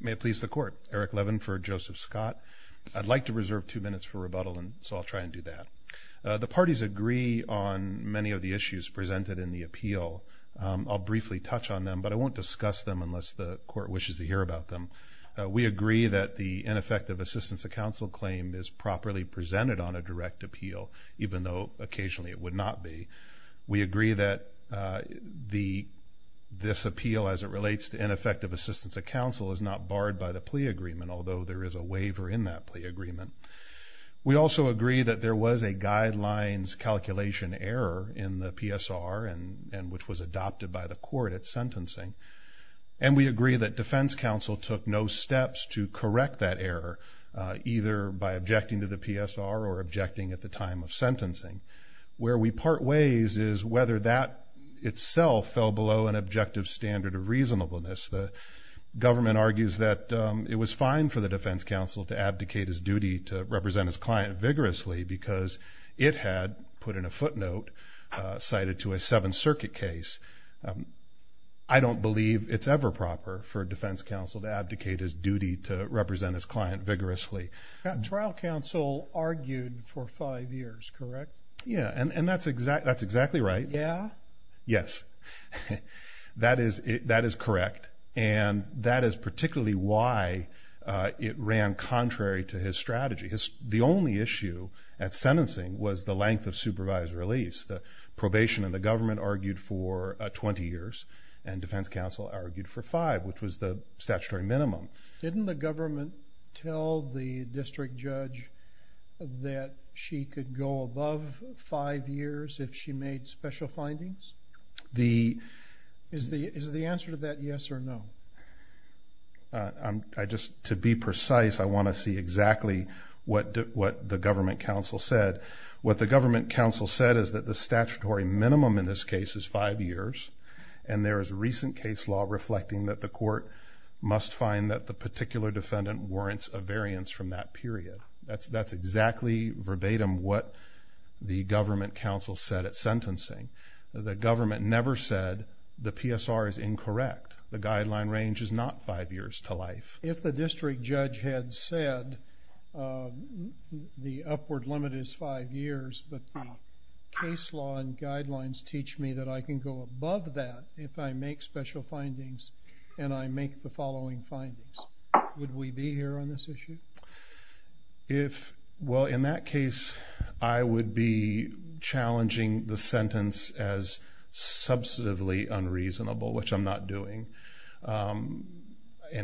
May it please the court. Eric Levin for Joseph Scott. I'd like to reserve two minutes for rebuttal, so I'll try and do that. The parties agree on many of the issues presented in the appeal. I'll briefly touch on them, but I won't discuss them unless the court wishes to hear about them. We agree that the ineffective assistance of counsel claim is properly presented on a direct appeal, even though occasionally it would not be. We agree that this appeal as it relates to ineffective assistance of counsel is not barred by the plea agreement, although there is a waiver in that plea agreement. We also agree that there was a guidelines calculation error in the PSR, which was adopted by the court at sentencing. And we agree that defense counsel took no steps to correct that error, either by objecting to the PSR or objecting at the time of sentencing. Where we part ways is whether that itself fell below an objective standard of reasonableness. The government argues that it was fine for the defense counsel to abdicate his duty to represent his client vigorously because it had, put in a footnote, cited to a Seventh Circuit case. I don't believe it's ever proper for defense counsel to abdicate his duty to represent his client vigorously. Trial counsel argued for five years, correct? Yeah, and that's exactly right. Yeah? Yes. That is correct, and that is particularly why it ran contrary to his strategy. The only issue at sentencing was the length of supervised release. The probation and the government argued for 20 years, and defense counsel argued for five, which was the statutory minimum. Didn't the government tell the district judge that she could go above five years if she made special findings? Is the answer to that yes or no? To be precise, I want to see exactly what the government counsel said. What the government counsel said is that the statutory minimum in this case is five years, and there is recent case law reflecting that the court must find that the particular defendant warrants a variance from that period. That's exactly verbatim what the government counsel said at sentencing. The government never said the PSR is incorrect. If the district judge had said the upward limit is five years, but the case law and guidelines teach me that I can go above that if I make special findings and I make the following findings, would we be here on this issue? Well, in that case, I would be challenging the sentence as substantively unreasonable, which I'm not doing, and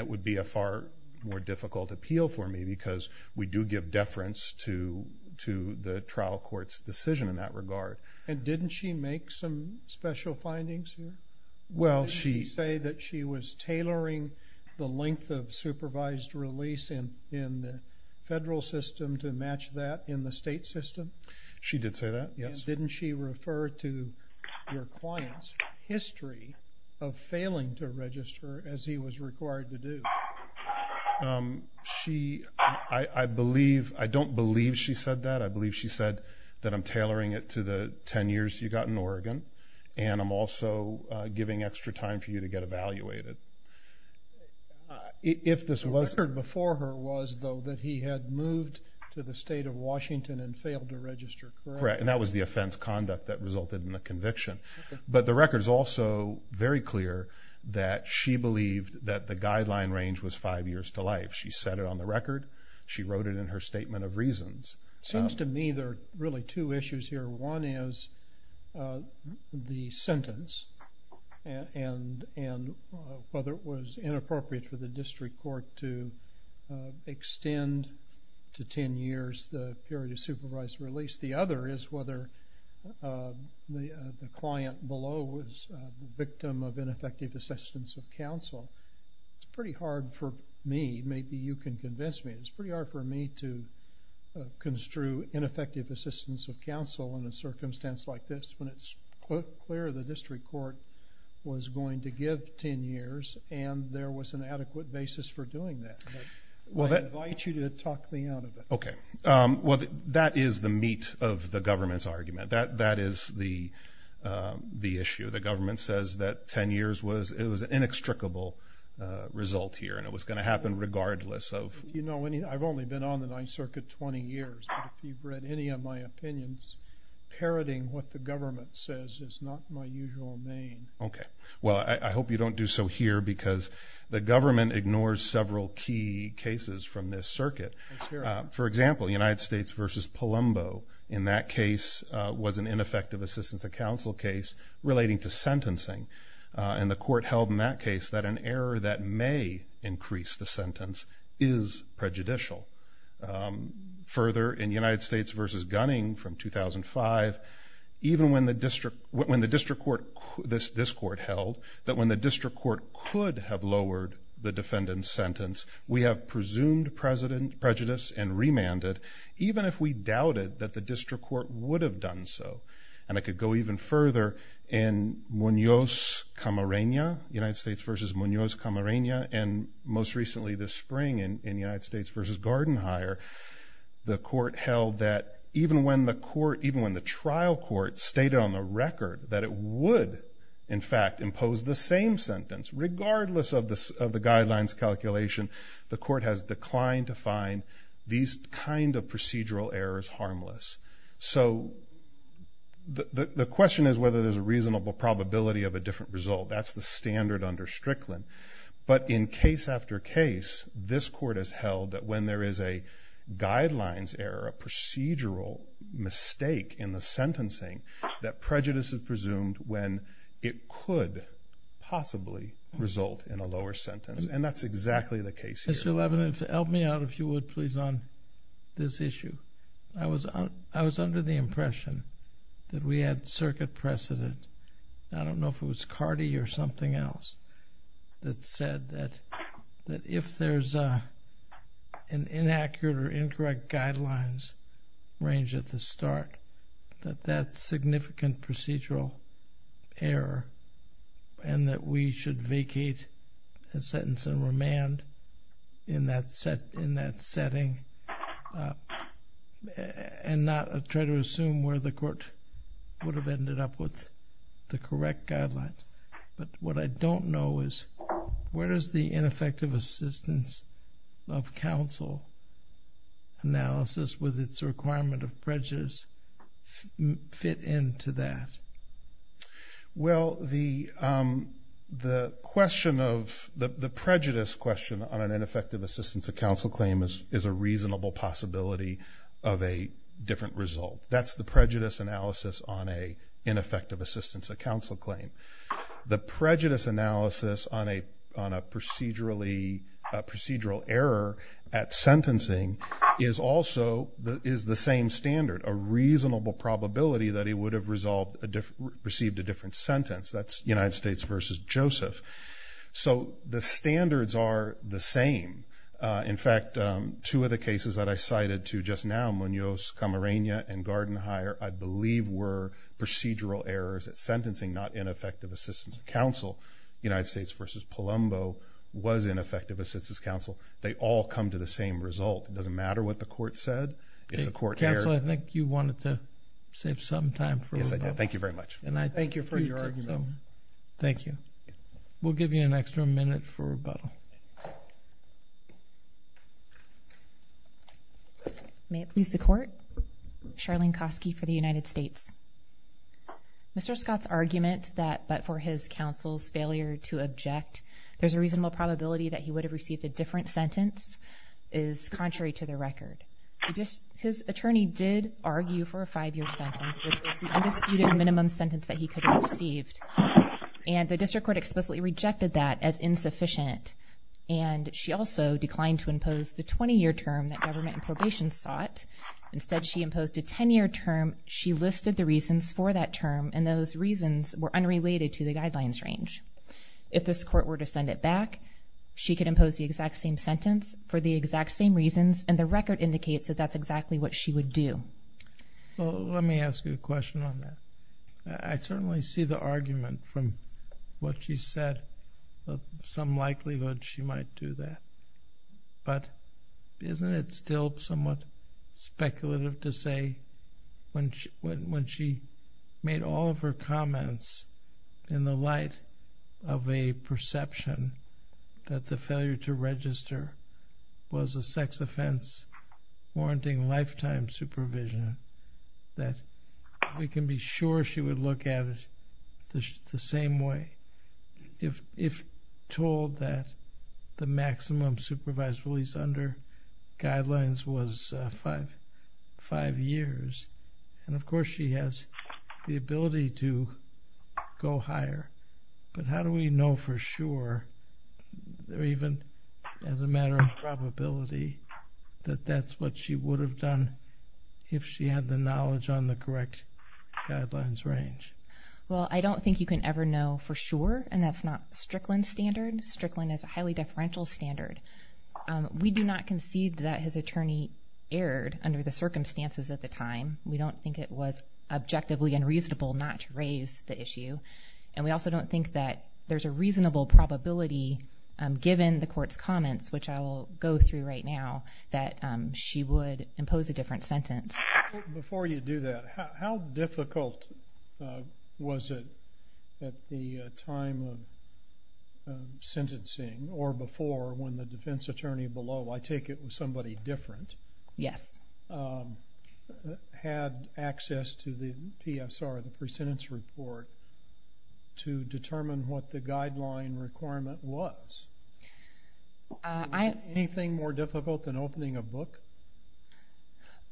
it would be a far more difficult appeal for me because we do give deference to the trial court's decision in that regard. And didn't she make some special findings here? Didn't she say that she was tailoring the length of supervised release in the federal system to match that in the state system? She did say that, yes. Didn't she refer to your client's history of failing to register as he was required to do? I don't believe she said that. I believe she said that I'm tailoring it to the 10 years you got in Oregon, and I'm also giving extra time for you to get evaluated. The record before her was, though, that he had moved to the state of Washington and failed to register, correct? And that was the offense conduct that resulted in the conviction. But the record is also very clear that she believed that the guideline range was five years to life. She said it on the record. She wrote it in her statement of reasons. It seems to me there are really two issues here. One is the sentence and whether it was inappropriate for the district court to extend to 10 years the period of supervised release. The other is whether the client below was the victim of ineffective assistance of counsel. It's pretty hard for me, maybe you can convince me, it's pretty hard for me to construe ineffective assistance of counsel in a circumstance like this when it's clear the district court was going to give 10 years and there was an adequate basis for doing that. I invite you to talk me out of it. Okay. Well, that is the meat of the government's argument. That is the issue. The government says that 10 years was an inextricable result here and it was going to happen regardless of... You know, I've only been on the Ninth Circuit 20 years. If you've read any of my opinions, parroting what the government says is not my usual name. Okay. Well, I hope you don't do so here because the government ignores several key cases from this circuit. That's fair. For example, United States v. Palumbo in that case was an ineffective assistance of counsel case relating to sentencing. And the court held in that case that an error that may increase the sentence is prejudicial. Further, in United States v. Gunning from 2005, even when the district court, this court held, that when the district court could have lowered the defendant's sentence, we have presumed prejudice and remanded, even if we doubted that the district court would have done so. And I could go even further in Munoz-Camarena, United States v. Munoz-Camarena, and most recently this spring in United States v. Gardenhire, the court held that even when the trial court stated on the record that it would, in fact, impose the same sentence, regardless of the guidelines calculation, the court has declined to find these kind of procedural errors harmless. So the question is whether there's a reasonable probability of a different result. That's the standard under Strickland. But in case after case, this court has held that when there is a guidelines error, a procedural mistake in the sentencing, that prejudice is presumed when it could possibly result in a lower sentence. And that's exactly the case here. Mr. Levin, help me out, if you would, please, on this issue. I was under the impression that we had circuit precedent. I don't know if it was Carty or something else that said that if there's an inaccurate or incorrect guidelines range at the start, that that's significant procedural error and that we should vacate the sentence and remand in that setting and not try to assume where the court would have ended up with the correct guidelines. But what I don't know is where does the ineffective assistance of counsel analysis with its requirement of prejudice fit into that? Well, the question of the prejudice question on an ineffective assistance of counsel claim is a reasonable possibility of a different result. That's the prejudice analysis on an ineffective assistance of counsel claim. The prejudice analysis on a procedural error at sentencing is also the same standard, a reasonable probability that he would have received a different sentence. That's United States v. Joseph. So the standards are the same. In fact, two of the cases that I cited to just now, Munoz-Camarena and Garden Hire, I believe were procedural errors at sentencing, not ineffective assistance of counsel. United States v. Palumbo was ineffective assistance of counsel. They all come to the same result. It doesn't matter what the court said. Counsel, I think you wanted to save some time for rebuttal. Yes, I did. Thank you very much. Thank you for your argument. Thank you. We'll give you an extra minute for rebuttal. May it please the Court. Charlene Kosky for the United States. Mr. Scott's argument that but for his counsel's failure to object, there's a reasonable probability that he would have received a different sentence is contrary to the record. His attorney did argue for a five-year sentence, which was the undisputed minimum sentence that he could have received. And the district court explicitly rejected that as insufficient. And she also declined to impose the 20-year term that government and probation sought. Instead, she imposed a 10-year term. She listed the reasons for that term, and those reasons were unrelated to the guidelines range. If this court were to send it back, she could impose the exact same sentence for the exact same reasons, and the record indicates that that's exactly what she would do. Let me ask you a question on that. I certainly see the argument from what she said of some likelihood she might do that. But isn't it still somewhat speculative to say when she made all of her comments in the light of a perception that the failure to register was a sex offense warranting lifetime supervision, that we can be sure she would look at it the same way if told that the maximum supervised release under guidelines was five years? And, of course, she has the ability to go higher. But how do we know for sure, or even as a matter of probability, that that's what she would have done if she had the knowledge on the correct guidelines range? Well, I don't think you can ever know for sure, and that's not Strickland's standard. Strickland has a highly differential standard. We do not concede that his attorney erred under the circumstances at the time. We don't think it was objectively unreasonable not to raise the issue, and we also don't think that there's a reasonable probability, given the court's comments, which I will go through right now, that she would impose a different sentence. Before you do that, how difficult was it at the time of sentencing or before when the defense attorney below, I take it was somebody different, had access to the PSR, the pre-sentence report, to determine what the guideline requirement was? Was anything more difficult than opening a book?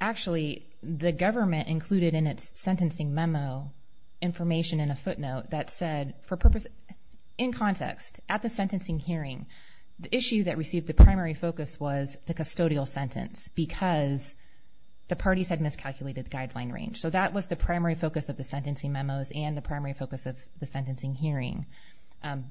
Actually, the government included in its sentencing memo information in a footnote that said, in context, at the sentencing hearing, the issue that received the primary focus was the custodial sentence because the parties had miscalculated the guideline range. So that was the primary focus of the sentencing memos and the primary focus of the sentencing hearing.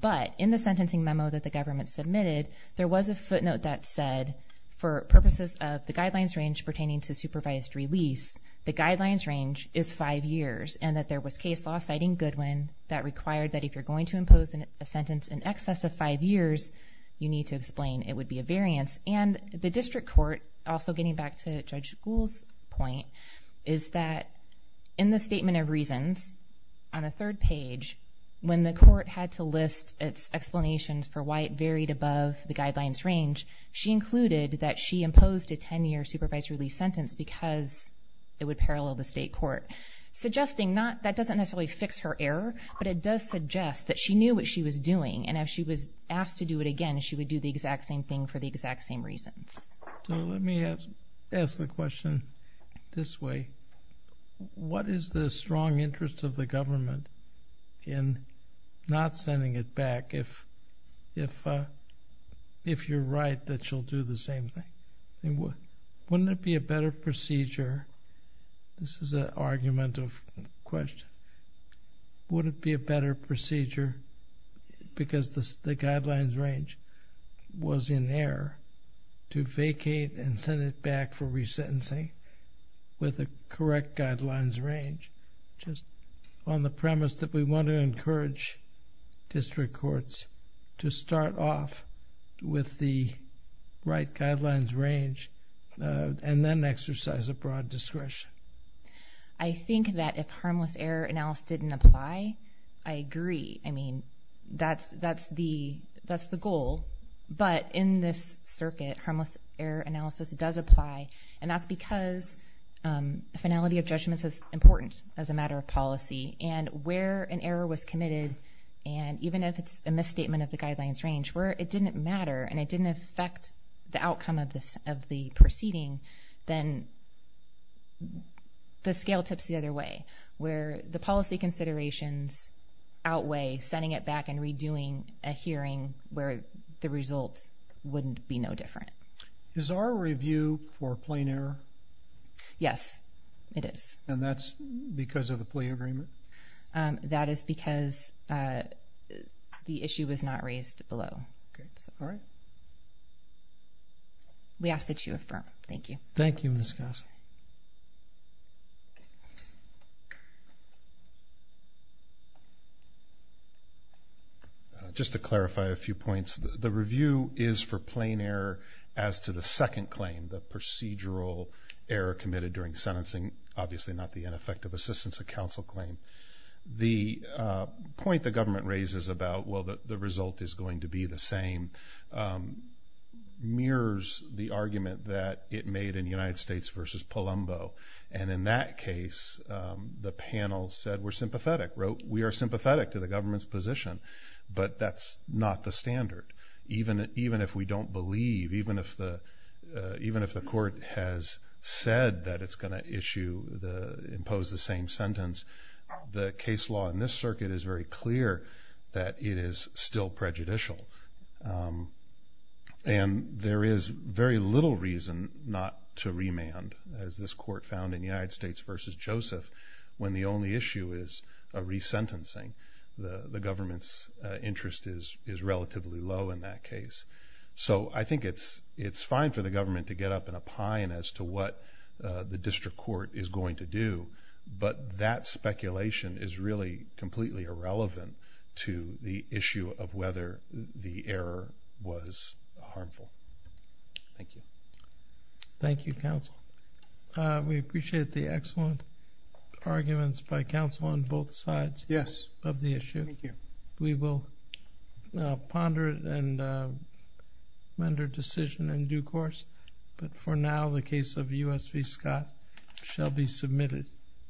But in the sentencing memo that the government submitted, there was a footnote that said, for purposes of the guidelines range pertaining to supervised release, the guidelines range is five years and that there was case law, citing Goodwin, that required that if you're going to impose a sentence in excess of five years, you need to explain it would be a variance. And the district court, also getting back to Judge Gould's point, is that in the statement of reasons, on the third page, when the court had to list its explanations for why it varied above the guidelines range, she included that she imposed a 10-year supervised release sentence because it would parallel the state court, suggesting that doesn't necessarily fix her error, but it does suggest that she knew what she was doing and if she was asked to do it again, she would do the exact same thing for the exact same reasons. So let me ask the question this way. What is the strong interest of the government in not sending it back if you're right that she'll do the same thing? Wouldn't it be a better procedure? This is an argument of question. Wouldn't it be a better procedure, because the guidelines range was in error, to vacate and send it back for resentencing with the correct guidelines range? Just on the premise that we want to encourage district courts to start off with the right guidelines range and then exercise a broad discretion. I think that if harmless error analysis didn't apply, I agree. I mean, that's the goal. But in this circuit, harmless error analysis does apply, and that's because finality of judgment is important as a matter of policy. And where an error was committed, and even if it's a misstatement of the guidelines range, where it didn't matter and it didn't affect the outcome of the proceeding, then the scale tips the other way, where the policy considerations outweigh sending it back and redoing a hearing where the result wouldn't be no different. Is our review for plain error? Yes, it is. And that's because of the plea agreement? That is because the issue was not raised below. All right. We ask that you affirm. Thank you. Thank you, Ms. Goss. Just to clarify a few points, the review is for plain error as to the second claim, the procedural error committed during sentencing, obviously not the ineffective assistance of counsel claim. The point the government raises about, well, the result is going to be the same, mirrors the argument that it made in United States v. Palumbo. And in that case, the panel said we're sympathetic, wrote we are sympathetic to the government's position, but that's not the standard. Even if we don't believe, even if the court has said that it's going to impose the same sentence, the case law in this circuit is very clear that it is still prejudicial. And there is very little reason not to remand, as this court found in United States v. Joseph, when the only issue is a resentencing. The government's interest is relatively low in that case. So I think it's fine for the government to get up in a pine as to what the district court is going to do, but that speculation is really completely irrelevant to the issue of whether the error was harmful. Thank you. Thank you, counsel. We appreciate the excellent arguments by counsel on both sides of the issue. We will ponder it and render decision in due course. But for now, the case of U.S. v. Scott shall be submitted.